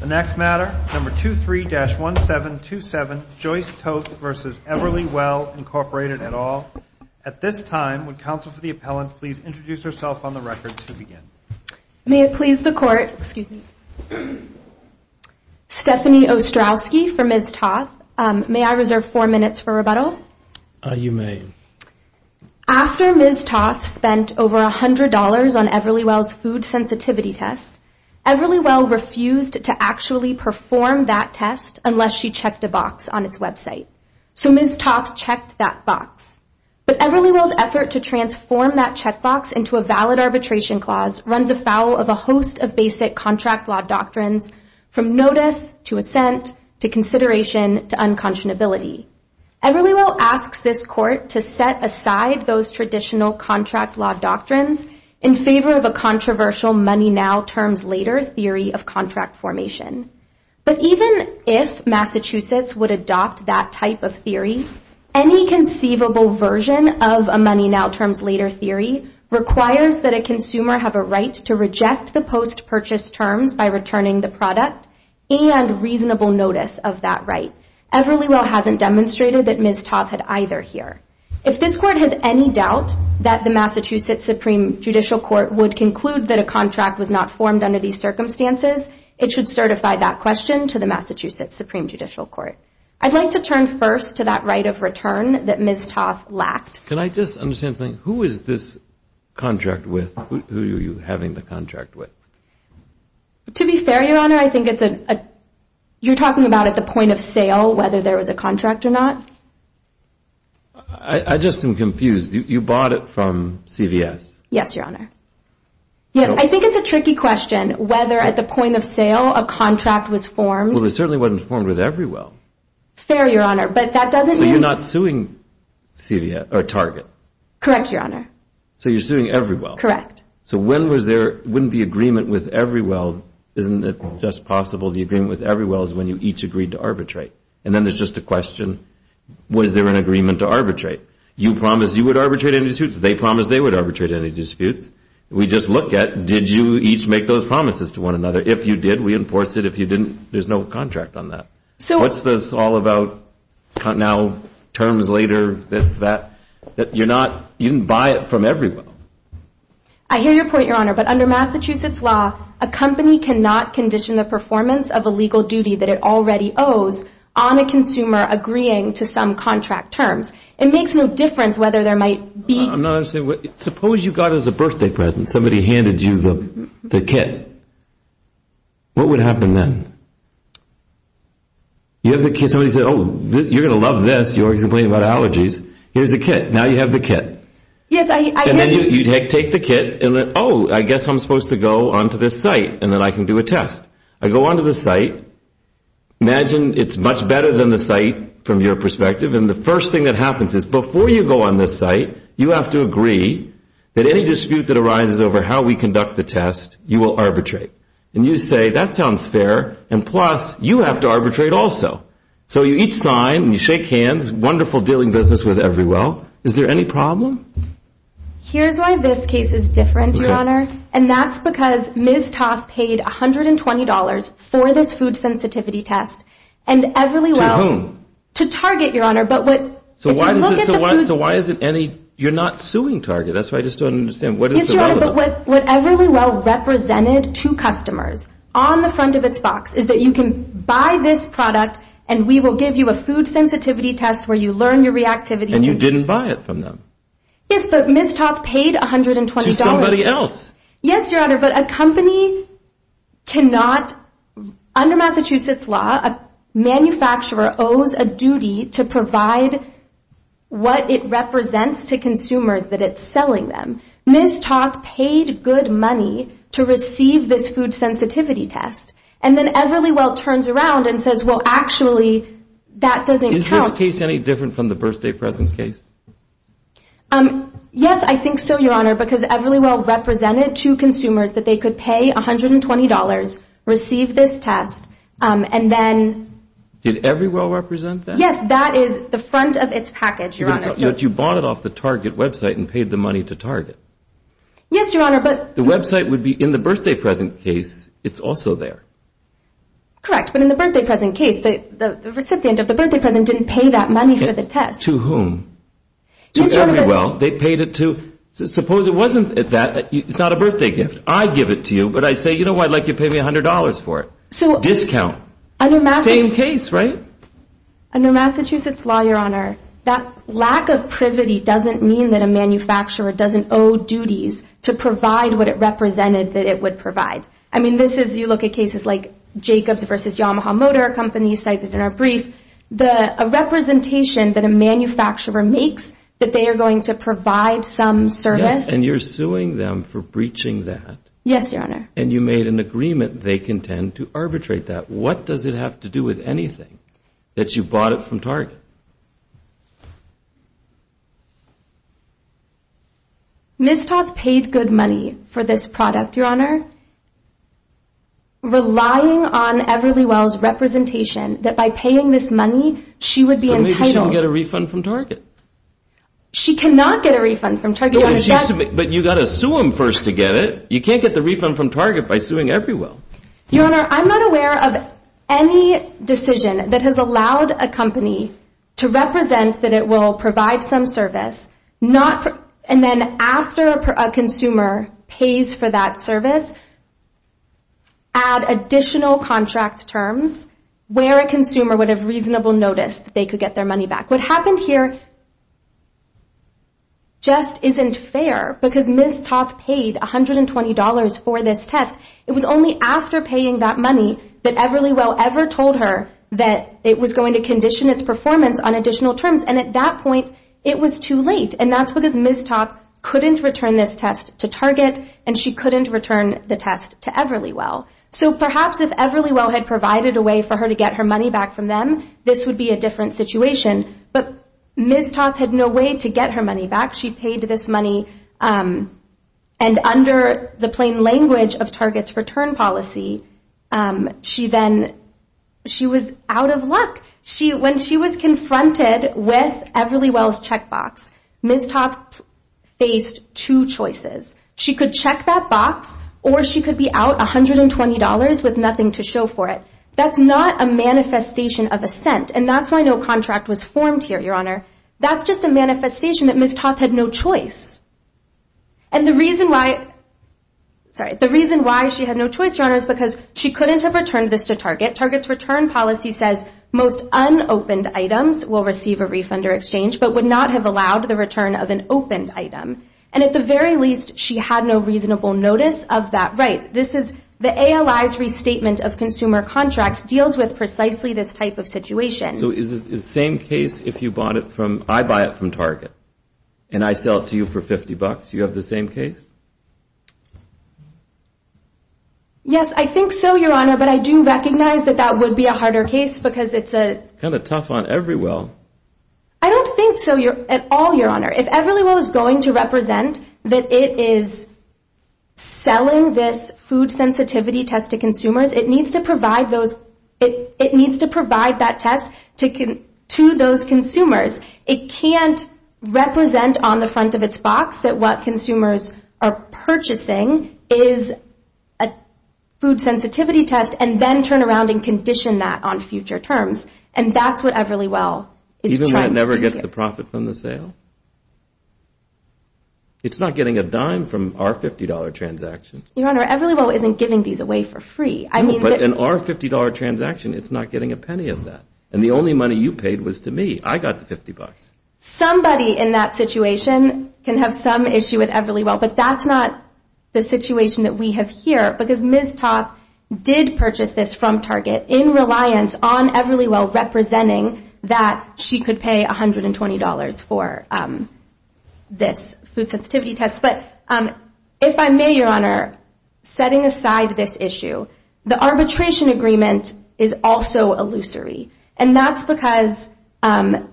The next matter, number 23-1727, Joyce Toth v. Everly Well, Incorporated, et al. At this time, would counsel for the appellant please introduce herself on the record to begin. May it please the Court. Excuse me. Stephanie Ostrowski for Ms. Toth. May I reserve four minutes for rebuttal? You may. After Ms. Toth spent over $100 on Everly Well's food sensitivity test, Everly Well refused to actually perform that test unless she checked a box on its website. So Ms. Toth checked that box. But Everly Well's effort to transform that checkbox into a valid arbitration clause runs afoul of a host of basic contract law doctrines, from notice to assent to consideration to unconscionability. Everly Well asks this Court to set aside those traditional contract law doctrines in favor of a controversial money-now-terms-later theory of contract formation. But even if Massachusetts would adopt that type of theory, any conceivable version of a money-now-terms-later theory requires that a consumer have a right to reject the post-purchase terms by returning the product and reasonable notice of that right. Everly Well hasn't demonstrated that Ms. Toth had either here. If this Court has any doubt that the Massachusetts Supreme Judicial Court would conclude that a contract was not formed under these circumstances, it should certify that question to the Massachusetts Supreme Judicial Court. I'd like to turn first to that right of return that Ms. Toth lacked. Can I just understand something? Who is this contract with? Who are you having the contract with? To be fair, Your Honor, I think it's a... I just am confused. You bought it from CVS? Yes, Your Honor. Yes, I think it's a tricky question whether at the point of sale a contract was formed. Well, it certainly wasn't formed with Everly Well. Fair, Your Honor, but that doesn't mean... So you're not suing CVS or Target? Correct, Your Honor. So you're suing Everly Well? Correct. So when was there, wouldn't the agreement with Everly Well, isn't it just possible the agreement with Everly Well is when you each agreed to arbitrate? And then there's just a question, was there an agreement to arbitrate? You promised you would arbitrate any disputes. They promised they would arbitrate any disputes. We just look at, did you each make those promises to one another? If you did, we enforce it. If you didn't, there's no contract on that. So... What's this all about now, terms later, this, that? You're not... You didn't buy it from Everly Well. I hear your point, Your Honor, but under Massachusetts law, a company cannot condition the performance of a legal duty that it already owes on a consumer agreeing to some contract terms. It makes no difference whether there might be... I'm not understanding. Suppose you got it as a birthday present. Somebody handed you the kit. What would happen then? You have the kit. Somebody said, oh, you're going to love this. You already complained about allergies. Here's the kit. Now you have the kit. Yes, I... And you take the kit and then, oh, I guess I'm supposed to go onto this site and then I can do a test. I go onto the site. Imagine it's much better than the site from your perspective. And the first thing that happens is before you go on this site, you have to agree that any dispute that arises over how we conduct the test, you will arbitrate. And you say, that sounds fair. And plus, you have to arbitrate also. So you each sign and you shake hands. Wonderful dealing business with Everly Well. Is there any problem? Here's why this case is different, Your Honor, and that's because Ms. Toth paid $120 for this food sensitivity test and Everly Well... To whom? To Target, Your Honor. But what... So why is it any... You're not suing Target. That's what I just don't understand. What is the problem? Yes, Your Honor, but what Everly Well represented to customers on the front of its box is that you can buy this product and we will give you a food sensitivity test where you learn your reactivity... And you didn't buy it from them. Yes, but Ms. Toth paid $120. She's somebody else. Yes, Your Honor, but a company cannot... Under Massachusetts law, a manufacturer owes a duty to provide what it represents to consumers that it's selling them. Ms. Toth paid good money to receive this food sensitivity test. And then Everly Well turns around and says, well, actually, that doesn't count. Is this case any different from the birthday present case? Yes, I think so, Your Honor, because Everly Well represented to consumers that they could pay $120, receive this test, and then... Did Everly Well represent that? Yes, that is the front of its package, Your Honor. But you bought it off the Target website and paid the money to Target. Yes, Your Honor, but... The website would be in the birthday present case. It's also there. Correct, but in the birthday present case, the recipient of the birthday present didn't pay that money for the test. To whom? To Everly Well. They paid it to... Suppose it wasn't that. It's not a birthday gift. I give it to you, but I say, you know what, I'd like you to pay me $100 for it. Discount. Same case, right? Under Massachusetts law, Your Honor, that lack of privity doesn't mean that a manufacturer doesn't owe duties to provide what it represented that it would provide. I mean, this is, you look at cases like Jacobs v. Yamaha Motor Company, cited in our brief, a representation that a manufacturer makes that they are going to provide some service. Yes, and you're suing them for breaching that. Yes, Your Honor. And you made an agreement they contend to arbitrate that. What does it have to do with anything that you bought it from Target? Ms. Toth paid good money for this product, Your Honor. Relying on Everly Well's representation that by paying this money, she would be entitled... So maybe she can get a refund from Target. She cannot get a refund from Target. But you've got to sue them first to get it. You can't get the refund from Target by suing Everly Well. ...to represent that it will provide some service, and then after a consumer pays for that service, add additional contract terms where a consumer would have reasonable notice that they could get their money back. What happened here just isn't fair, because Ms. Toth paid $120 for this test. It was only after paying that money that Everly Well ever told her that it was going to condition its performance on additional terms. And at that point, it was too late. And that's because Ms. Toth couldn't return this test to Target, and she couldn't return the test to Everly Well. So perhaps if Everly Well had provided a way for her to get her money back from them, this would be a different situation. But Ms. Toth had no way to get her money back. She paid this money, and under the plain language of Target's return policy, she then was out of luck. When she was confronted with Everly Well's checkbox, Ms. Toth faced two choices. She could check that box, or she could be out $120 with nothing to show for it. That's not a manifestation of assent, and that's why no contract was formed here, Your Honor. That's just a manifestation that Ms. Toth had no choice. And the reason why she had no choice, Your Honor, is because she couldn't have returned this to Target. Target's return policy says most unopened items will receive a refund or exchange but would not have allowed the return of an opened item. And at the very least, she had no reasonable notice of that right. This is the ALI's restatement of consumer contracts deals with precisely this type of situation. So is it the same case if you bought it from, I buy it from Target, and I sell it to you for $50? Do you have the same case? Yes, I think so, Your Honor, but I do recognize that that would be a harder case because it's a... Kind of tough on Everly Well. I don't think so at all, Your Honor. If Everly Well is going to represent that it is selling this food sensitivity test to consumers, it needs to provide those... It needs to provide that test to those consumers. It can't represent on the front of its box that what consumers are purchasing is a food sensitivity test and then turn around and condition that on future terms. And that's what Everly Well is trying to do here. Even when it never gets the profit from the sale? It's not getting a dime from our $50 transaction. Your Honor, Everly Well isn't giving these away for free. But in our $50 transaction, it's not getting a penny of that. And the only money you paid was to me. I got the $50. Somebody in that situation can have some issue with Everly Well, but that's not the situation that we have here because Ms. Toth did purchase this from Target in reliance on Everly Well representing that she could pay $120 for this food sensitivity test. But if I may, Your Honor, setting aside this issue, the arbitration agreement is also illusory. And that's because Everly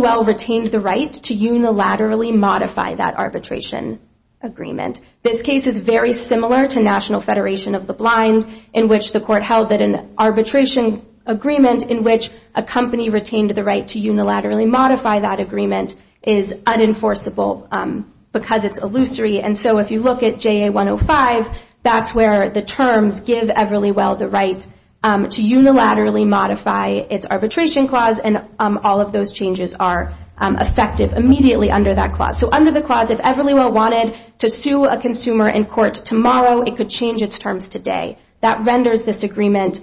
Well retained the right to unilaterally modify that arbitration agreement. This case is very similar to National Federation of the Blind, in which the court held that an arbitration agreement in which a company retained the right to unilaterally modify that agreement is unenforceable because it's illusory. And so if you look at JA-105, that's where the terms give Everly Well the right to unilaterally modify its arbitration clause, and all of those changes are effective immediately under that clause. So under the clause, if Everly Well wanted to sue a consumer in court tomorrow, it could change its terms today. That renders this agreement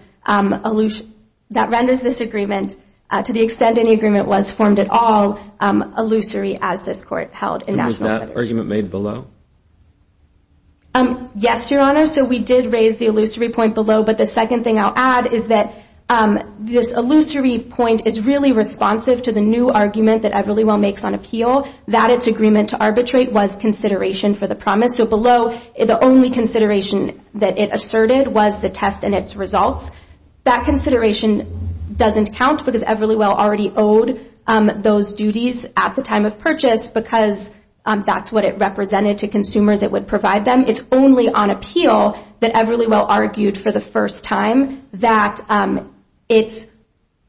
to the extent any agreement was formed at all illusory as this court held in National Federation of the Blind. And was that argument made below? Yes, Your Honor. So we did raise the illusory point below, but the second thing I'll add is that this illusory point is really responsive to the new argument that Everly Well makes on appeal, that its agreement to arbitrate was consideration for the promise. So below, the only consideration that it asserted was the test and its results. That consideration doesn't count because Everly Well already owed those duties at the time of purchase because that's what it represented to consumers. It would provide them. It's only on appeal that Everly Well argued for the first time that its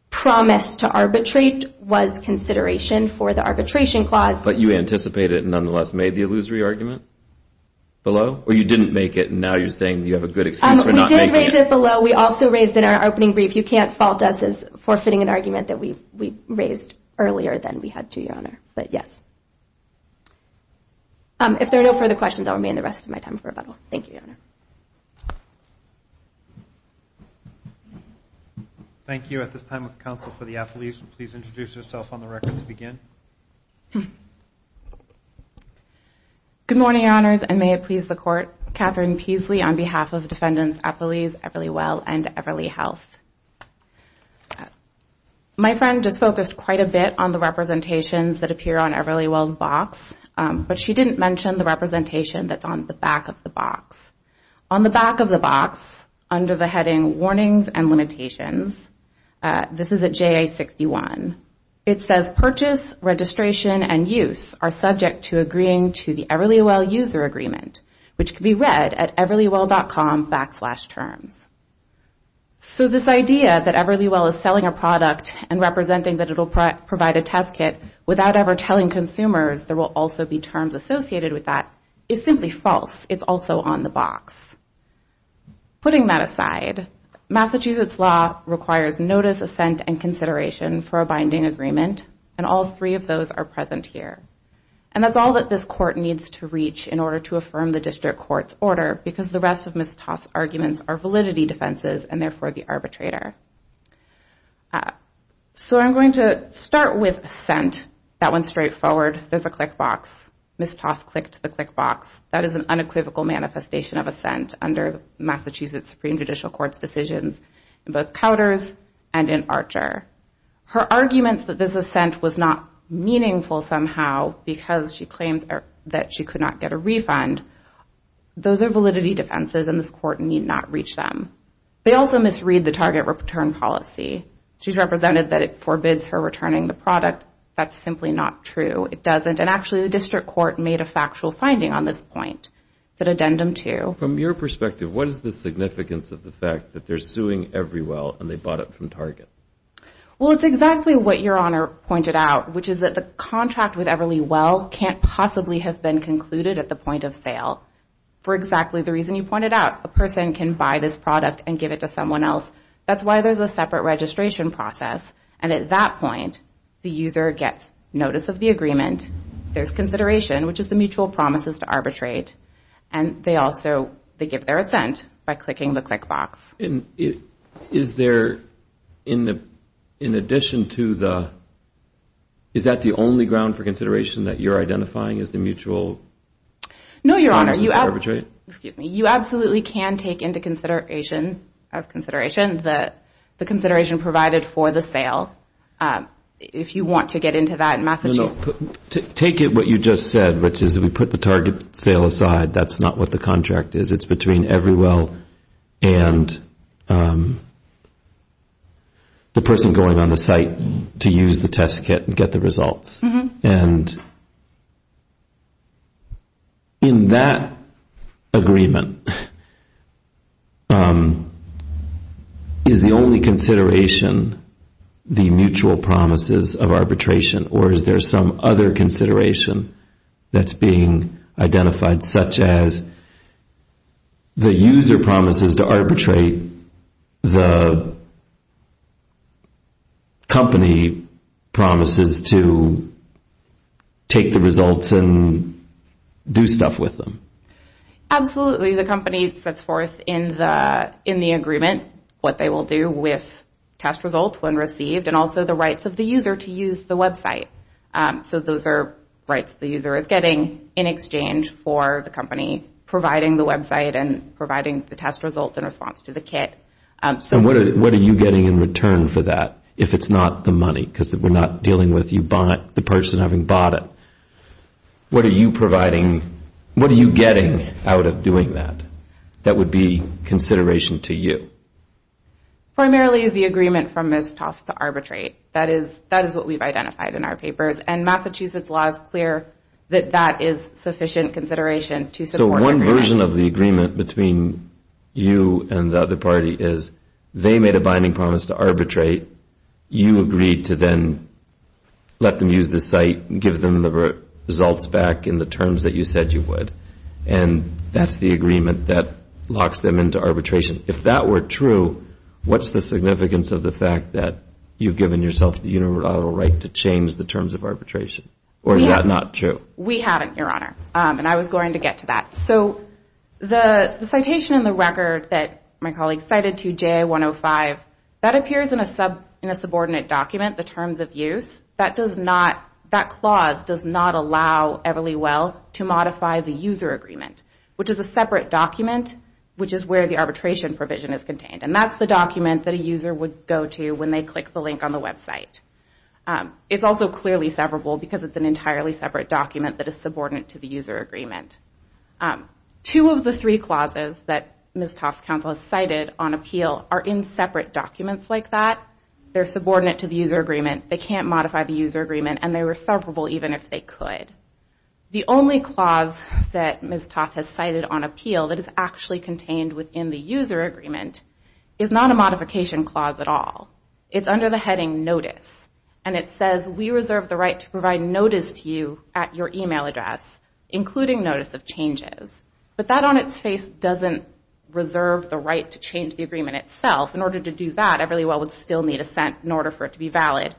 promise to arbitrate was consideration for the arbitration clause. But you anticipated and nonetheless made the illusory argument below? Or you didn't make it, and now you're saying you have a good excuse for not making it? We did raise it below. We also raised in our opening brief, if you can't fault us as forfeiting an argument that we raised earlier, then we had to, Your Honor. But, yes. If there are no further questions, I'll remain the rest of my time for rebuttal. Thank you, Your Honor. Thank you. At this time, the counsel for the appellees, please introduce yourself on the record to begin. Good morning, Your Honors, and may it please the Court, I'm Katherine Peasley on behalf of Defendants Appellees Everly Well and Everly Health. My friend just focused quite a bit on the representations that appear on Everly Well's box, but she didn't mention the representation that's on the back of the box. On the back of the box, under the heading, Warnings and Limitations, this is at JA61. It says, Purchase, registration, and use are subject to agreeing to the Everly Well user agreement, which can be read at everlywell.com backslash terms. So this idea that Everly Well is selling a product and representing that it will provide a test kit without ever telling consumers there will also be terms associated with that is simply false. It's also on the box. Putting that aside, Massachusetts law requires notice, assent, and consideration for a binding agreement, and all three of those are present here. And that's all that this court needs to reach in order to affirm the district court's order because the rest of Ms. Toss' arguments are validity defenses and therefore the arbitrator. So I'm going to start with assent. That one's straightforward. There's a click box. Ms. Toss clicked the click box. That is an unequivocal manifestation of assent under Massachusetts Supreme Judicial Court's decisions in both Couders and in Archer. Her arguments that this assent was not meaningful somehow because she claims that she could not get a refund, those are validity defenses, and this court need not reach them. They also misread the target return policy. She's represented that it forbids her returning the product. That's simply not true. It doesn't. And actually, the district court made a factual finding on this point, that addendum 2. So from your perspective, what is the significance of the fact that they're suing Everly Well and they bought it from Target? Well, it's exactly what Your Honor pointed out, which is that the contract with Everly Well can't possibly have been concluded at the point of sale for exactly the reason you pointed out. A person can buy this product and give it to someone else. That's why there's a separate registration process. And at that point, the user gets notice of the agreement. There's consideration, which is the mutual promises to arbitrate. And they also give their assent by clicking the click box. And is there, in addition to the, is that the only ground for consideration that you're identifying as the mutual promises to arbitrate? No, Your Honor. Excuse me. You absolutely can take into consideration, as consideration, the consideration provided for the sale. If you want to get into that in Massachusetts. Take what you just said, which is we put the Target sale aside. That's not what the contract is. It's between Everly Well and the person going on the site to use the test kit and get the results. And in that agreement, is the only consideration the mutual promises of arbitration or is there some other consideration that's being identified, such as the user promises to arbitrate, the company promises to take the results and do stuff with them? Absolutely. The company sets forth in the agreement what they will do with test results when received and also the rights of the user to use the website. So those are rights the user is getting in exchange for the company providing the website and providing the test results in response to the kit. And what are you getting in return for that if it's not the money? Because we're not dealing with the person having bought it. What are you providing? What are you getting out of doing that that would be consideration to you? Primarily the agreement from Ms. Toss to arbitrate. That is what we've identified in our papers. And Massachusetts law is clear that that is sufficient consideration to support every action. So one version of the agreement between you and the other party is they made a binding promise to arbitrate. You agreed to then let them use the site, give them the results back in the terms that you said you would. And that's the agreement that locks them into arbitration. If that were true, what's the significance of the fact that you've given yourself the unilateral right to change the terms of arbitration? Or is that not true? We haven't, Your Honor, and I was going to get to that. So the citation in the record that my colleague cited to JA-105, that appears in a subordinate document, the terms of use. That clause does not allow Everly Well to modify the user agreement, which is a separate document, which is where the arbitration provision is contained. And that's the document that a user would go to when they click the link on the website. It's also clearly severable because it's an entirely separate document that is subordinate to the user agreement. Two of the three clauses that Ms. Toss' counsel has cited on appeal are in separate documents like that. They're subordinate to the user agreement. They can't modify the user agreement. And they were severable even if they could. The only clause that Ms. Toss has cited on appeal that is actually contained within the user agreement is not a modification clause at all. It's under the heading notice. And it says we reserve the right to provide notice to you at your email address, including notice of changes. But that on its face doesn't reserve the right to change the agreement itself. In order to do that, Everly Well would still need a cent in order for it to be valid.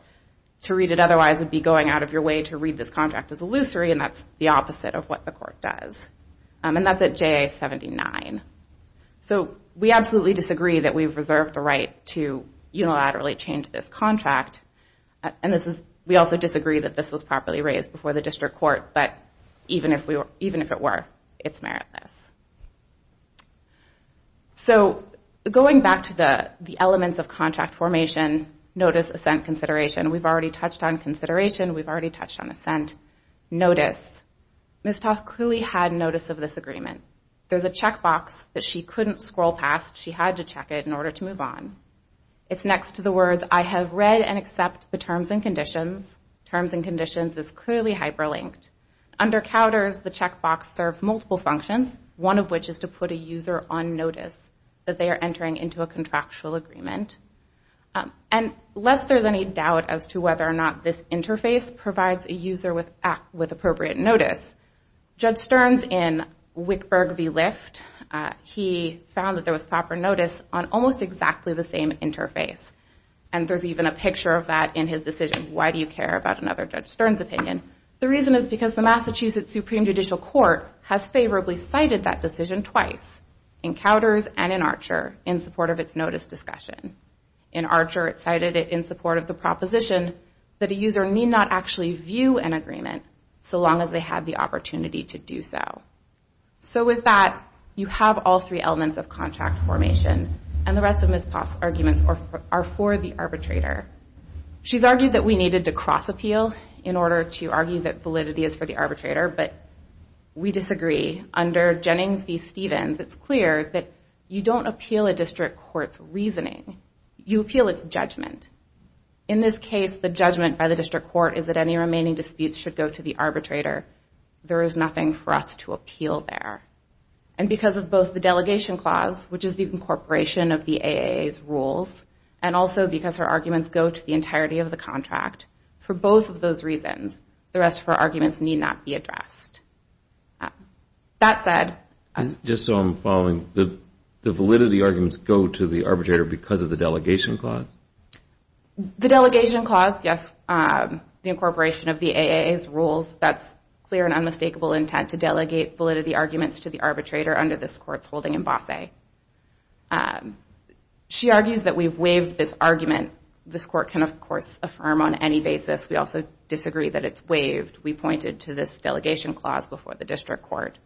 To read it otherwise would be going out of your way to read this contract as illusory, and that's the opposite of what the court does. And that's at JA-79. So we absolutely disagree that we reserve the right to unilaterally change this contract. And we also disagree that this was properly raised before the district court. But even if it were, it's meritless. So going back to the elements of contract formation, notice, assent, consideration. We've already touched on consideration. We've already touched on assent. Notice. Ms. Toss clearly had notice of this agreement. There's a checkbox that she couldn't scroll past. She had to check it in order to move on. It's next to the words I have read and accept the terms and conditions. Terms and conditions is clearly hyperlinked. Under counters, the checkbox serves multiple functions, one of which is to put a user on notice that they are entering into a contractual agreement. And lest there's any doubt as to whether or not this interface provides a user with appropriate notice, Judge Stearns in Wickburg v. Lift, he found that there was proper notice on almost exactly the same interface. And there's even a picture of that in his decision. Why do you care about another Judge Stearns' opinion? The reason is because the Massachusetts Supreme Judicial Court has favorably cited that decision twice, in counters and in Archer, in support of its notice discussion. In Archer, it cited it in support of the proposition that a user need not actually view an agreement so long as they have the opportunity to do so. So with that, you have all three elements of contract formation, and the rest of Ms. Toss' arguments are for the arbitrator. She's argued that we needed to cross-appeal in order to argue that validity is for the arbitrator, but we disagree. Under Jennings v. Stevens, it's clear that you don't appeal a district court's reasoning. You appeal its judgment. In this case, the judgment by the district court is that any remaining disputes should go to the arbitrator. There is nothing for us to appeal there. And because of both the delegation clause, which is the incorporation of the AAA's rules, and also because her arguments go to the entirety of the contract, for both of those reasons, the rest of her arguments need not be addressed. That said... Just so I'm following, the validity arguments go to the arbitrator because of the delegation clause? The delegation clause, yes, the incorporation of the AAA's rules, that's clear and unmistakable intent to delegate validity arguments to the arbitrator under this court's holding in Bosset. Okay. She argues that we've waived this argument. This court can, of course, affirm on any basis. We also disagree that it's waived. We pointed to this delegation clause before the district court.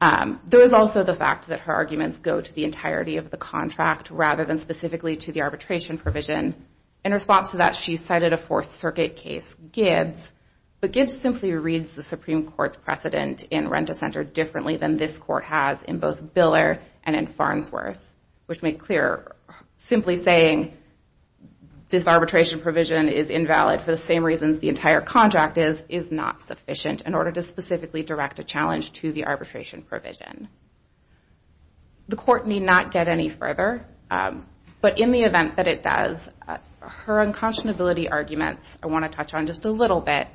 There is also the fact that her arguments go to the entirety of the contract rather than specifically to the arbitration provision. In response to that, she cited a Fourth Circuit case, Gibbs, but Gibbs simply reads the Supreme Court's precedent in RentaCenter differently than this court has in both Biller and in Farnsworth, which make clear simply saying this arbitration provision is invalid for the same reasons the entire contract is is not sufficient in order to specifically direct a challenge to the arbitration provision. The court need not get any further, but in the event that it does, her unconscionability arguments I want to touch on just a little bit.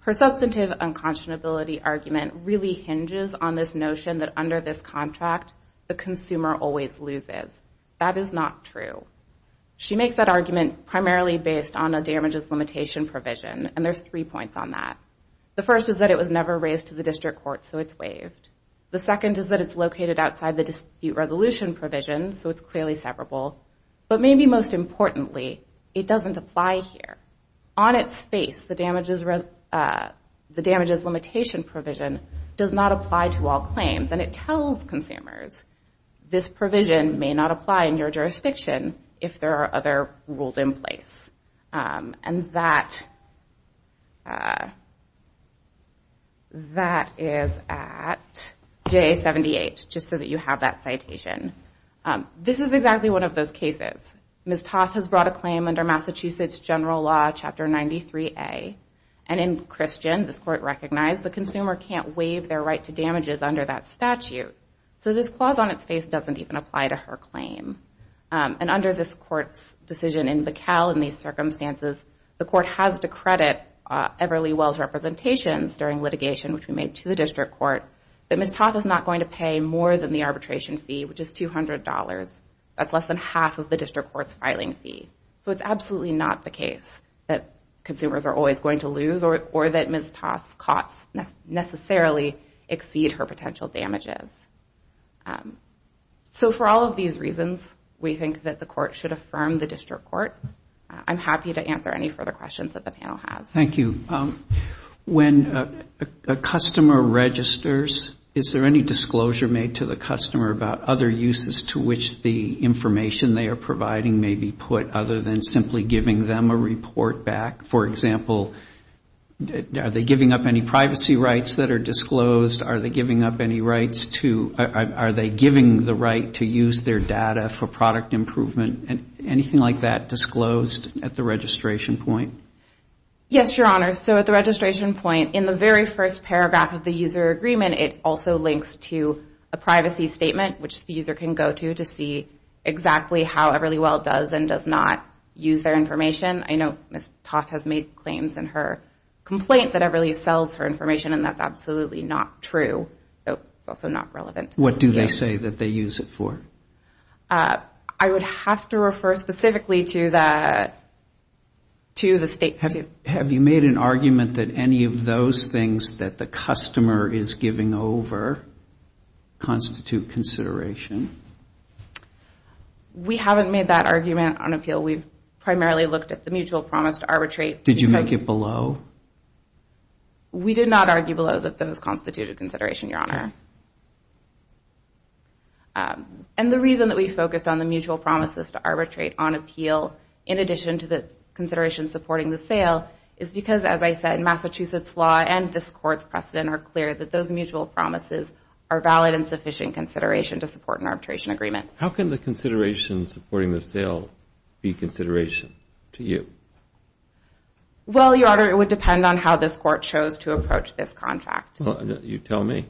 Her substantive unconscionability argument really hinges on this notion that under this contract the consumer always loses. That is not true. She makes that argument primarily based on a damages limitation provision, and there's three points on that. The first is that it was never raised to the district court, so it's waived. The second is that it's located outside the dispute resolution provision, so it's clearly severable. But maybe most importantly, it doesn't apply here. On its face, the damages limitation provision does not apply to all claims, and it tells consumers this provision may not apply in your jurisdiction if there are other rules in place. And that is at J78, just so that you have that citation. This is exactly one of those cases. Ms. Toth has brought a claim under Massachusetts General Law, Chapter 93A, and in Christian, this court recognized the consumer can't waive their right to damages under that statute. So this clause on its face doesn't even apply to her claim. And under this court's decision in Bacal in these circumstances, the court has to credit Everly Wells Representations during litigation, which we made to the district court, that Ms. Toth is not going to pay more than the arbitration fee, which is $200. That's less than half of the district court's filing fee. So it's absolutely not the case that consumers are always going to lose or that Ms. Toth's costs necessarily exceed her potential damages. So for all of these reasons, we think that the court should affirm the district court. I'm happy to answer any further questions that the panel has. Thank you. When a customer registers, is there any disclosure made to the customer about other uses to which the information they are providing may be put other than simply giving them a report back? For example, are they giving up any privacy rights that are disclosed? Are they giving up any rights to or are they giving the right to use their data for product improvement? Anything like that disclosed at the registration point? Yes, Your Honor. So at the registration point, in the very first paragraph of the user agreement, it also links to a privacy statement, which the user can go to to see exactly how Everly Well does and does not use their information. I know Ms. Toth has made claims in her complaint that Everly sells her information, and that's absolutely not true. It's also not relevant. What do they say that they use it for? I would have to refer specifically to the statement. Have you made an argument that any of those things that the customer is giving over constitute consideration? We haven't made that argument on appeal. We've primarily looked at the mutual promise to arbitrate. Did you make it below? We did not argue below that those constitute a consideration, Your Honor. And the reason that we focused on the mutual promises to arbitrate on appeal, in addition to the consideration supporting the sale, is because, as I said, Massachusetts law and this Court's precedent are clear that those mutual promises are valid and sufficient consideration to support an arbitration agreement. How can the consideration supporting the sale be consideration to you? Well, Your Honor, it would depend on how this Court chose to approach this contract. Well, you tell me.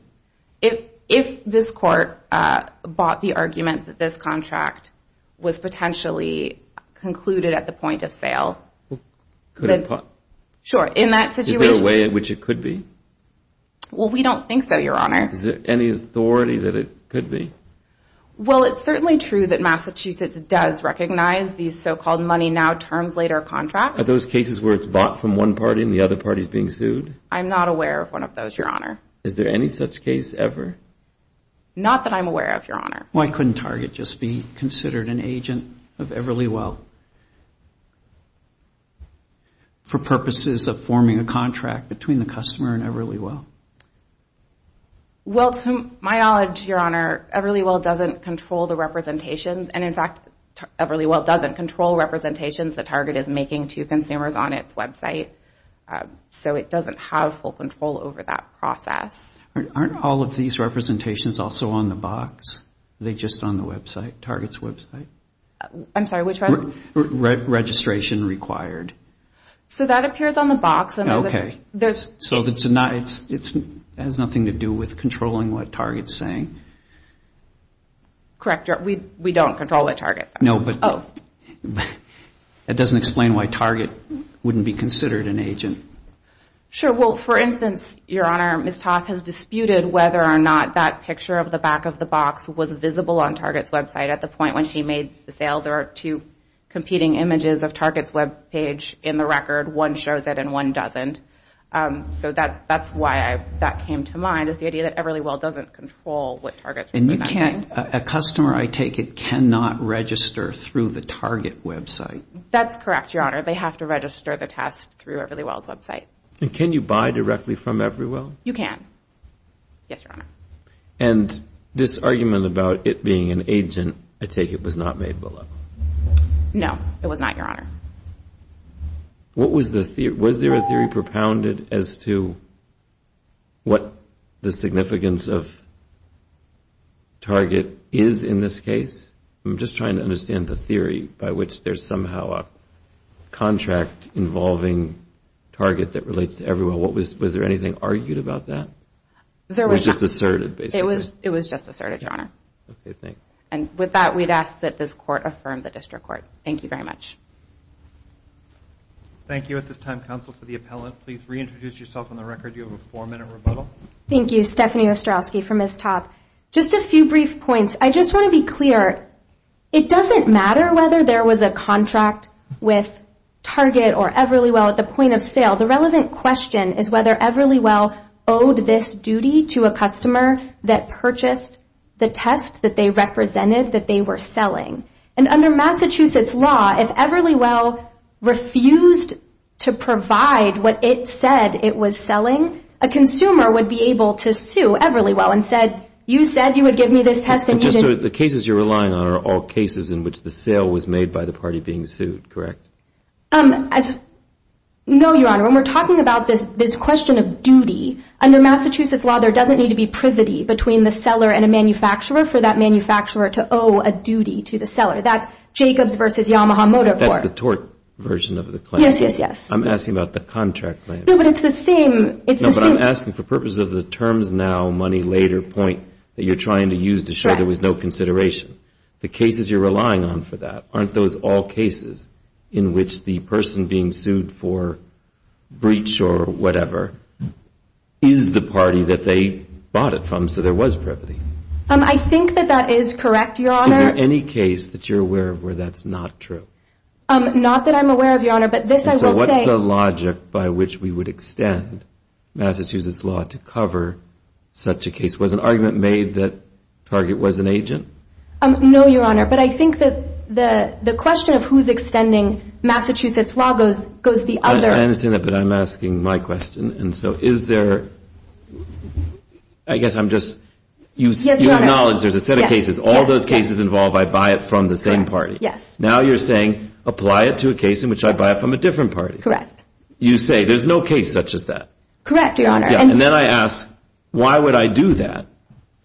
If this Court bought the argument that this contract was potentially concluded at the point of sale... Could it be? Sure. In that situation... Is there a way in which it could be? Well, we don't think so, Your Honor. Is there any authority that it could be? Well, it's certainly true that Massachusetts does recognize these so-called money-now, terms-later contracts. Are those cases where it's bought from one party and the other party is being sued? I'm not aware of one of those, Your Honor. Is there any such case ever? Not that I'm aware of, Your Honor. Why couldn't Target just be considered an agent of Everly Well for purposes of forming a contract between the customer and Everly Well? Well, to my knowledge, Your Honor, Everly Well doesn't control the representations, and, in fact, Everly Well doesn't control representations that Target is making to consumers on its website, so it doesn't have full control over that process. Aren't all of these representations also on the box? Are they just on the website, Target's website? I'm sorry, which one? Registration required. So that appears on the box. Okay. So it has nothing to do with controlling what Target's saying? No, but... Oh. That doesn't explain why Target wouldn't be considered an agent. Sure. Well, for instance, Your Honor, Ms. Toth has disputed whether or not that picture of the back of the box was visible on Target's website at the point when she made the sale. There are two competing images of Target's webpage in the record. One shows it and one doesn't. So that's why that came to mind, is the idea that Everly Well doesn't control what Target's representing. And a customer, I take it, cannot register through the Target website? That's correct, Your Honor. They have to register the test through Everly Well's website. And can you buy directly from Everly Well? You can. Yes, Your Honor. And this argument about it being an agent, I take it, was not made below? No, it was not, Your Honor. What was the theory? Was there a theory propounded as to what the significance of Target is in this case? I'm just trying to understand the theory by which there's somehow a contract involving Target that relates to Everly Well. Was there anything argued about that? It was just asserted, basically. It was just asserted, Your Honor. Okay, thanks. And with that, we'd ask that this Court affirm the District Court. Thank you very much. Thank you, at this time, Counsel for the Appellant. Please reintroduce yourself on the record. You have a four-minute rebuttal. Thank you, Stephanie Ostrowski from Ms. Topp. Just a few brief points. I just want to be clear. It doesn't matter whether there was a contract with Target or Everly Well at the point of sale. The relevant question is whether Everly Well owed this duty to a customer that purchased the test that they represented that they were selling. And under Massachusetts law, if Everly Well refused to provide what it said it was selling, a consumer would be able to sue Everly Well and say, you said you would give me this test and you didn't. So the cases you're relying on are all cases in which the sale was made by the party being sued, correct? No, Your Honor. When we're talking about this question of duty, under Massachusetts law there doesn't need to be privity between the seller and a manufacturer for that manufacturer to owe a duty to the seller. That's Jacobs v. Yamaha Motor Corp. That's the tort version of the claim. Yes, yes, yes. I'm asking about the contract claim. No, but it's the same. No, but I'm asking for purposes of the terms now, money later point that you're trying to use to show there was no consideration. The cases you're relying on for that aren't those all cases in which the person being sued for breach or whatever is the party that they bought it from, so there was privity. I think that that is correct, Your Honor. Is there any case that you're aware of where that's not true? Not that I'm aware of, Your Honor, but this I will say. So what's the logic by which we would extend Massachusetts law to cover such a case? Was an argument made that Target was an agent? No, Your Honor, but I think that the question of who's extending Massachusetts law goes the other. I understand that, but I'm asking my question. And so is there, I guess I'm just, you acknowledge there's a set of cases. All those cases involve I buy it from the same party. Now you're saying apply it to a case in which I buy it from a different party. Correct. You say there's no case such as that. Correct, Your Honor. And then I ask why would I do that?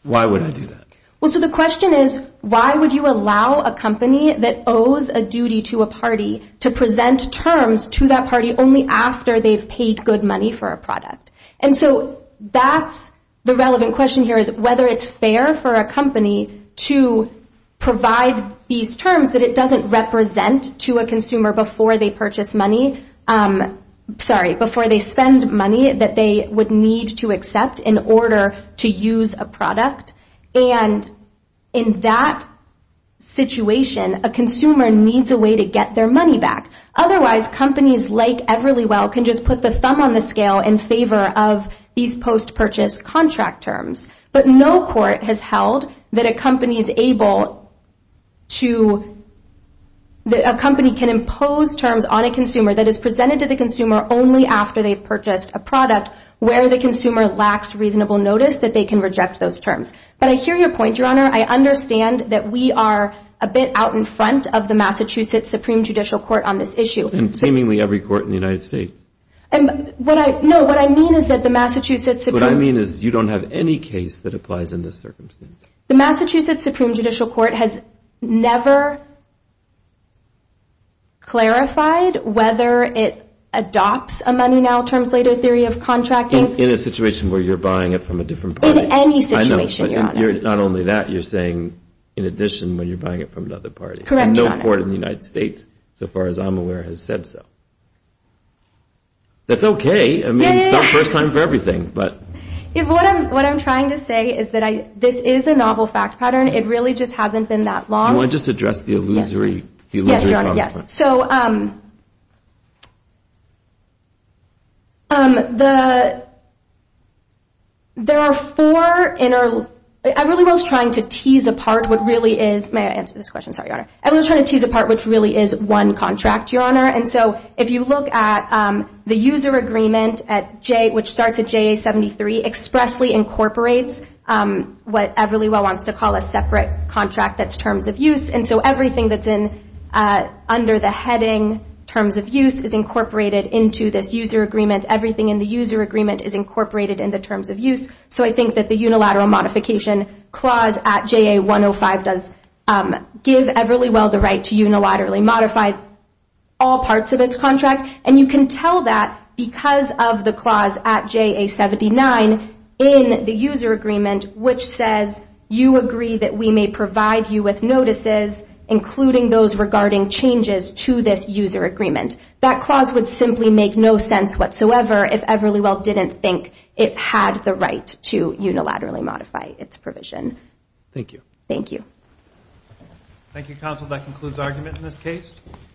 Why would I do that? Well, so the question is why would you allow a company that owes a duty to a party to present terms to that party only after they've paid good money for a product? And so that's the relevant question here is whether it's fair for a company to provide these terms that it doesn't represent to a consumer before they purchase money, sorry, before they spend money that they would need to accept in order to use a product. And in that situation, a consumer needs a way to get their money back. Otherwise, companies like Everly Well can just put the thumb on the scale in favor of these post-purchase contract terms. But no court has held that a company is able to, that a company can impose terms on a consumer that is presented to the consumer only after they've purchased a product where the consumer lacks reasonable notice that they can reject those terms. But I hear your point, Your Honor. I understand that we are a bit out in front of the Massachusetts Supreme Judicial Court on this issue. And seemingly every court in the United States. And what I, no, what I mean is that the Massachusetts Supreme. What I mean is you don't have any case that applies in this circumstance. The Massachusetts Supreme Judicial Court has never clarified whether it adopts a money-now-terms-later theory of contracting. In a situation where you're buying it from a different party. In any situation, Your Honor. I know, but not only that, you're saying in addition when you're buying it from another party. Correct, Your Honor. And no court in the United States, so far as I'm aware, has said so. That's okay. I mean, it's not first time for everything, but. What I'm trying to say is that this is a novel fact pattern. It really just hasn't been that long. Do you want to just address the illusory consequence? Yes, Your Honor, yes. So, there are four in our, Everly Well is trying to tease apart what really is, may I answer this question? Sorry, Your Honor. Everly Well is trying to tease apart what really is one contract, Your Honor. And so, if you look at the user agreement at J, which starts at JA 73, expressly incorporates what Everly Well wants to call a separate contract that's terms of use. And so, everything that's under the heading terms of use is incorporated into this user agreement. Everything in the user agreement is incorporated in the terms of use. So, I think that the unilateral modification clause at JA 105 does give Everly Well the right to unilaterally modify all parts of its contract. And you can tell that because of the clause at JA 79 in the user agreement, which says, you agree that we may provide you with notices, including those regarding changes to this user agreement. That clause would simply make no sense whatsoever if Everly Well didn't think it had the right to unilaterally modify its provision. Thank you. Thank you. Thank you, counsel. That concludes argument in this case.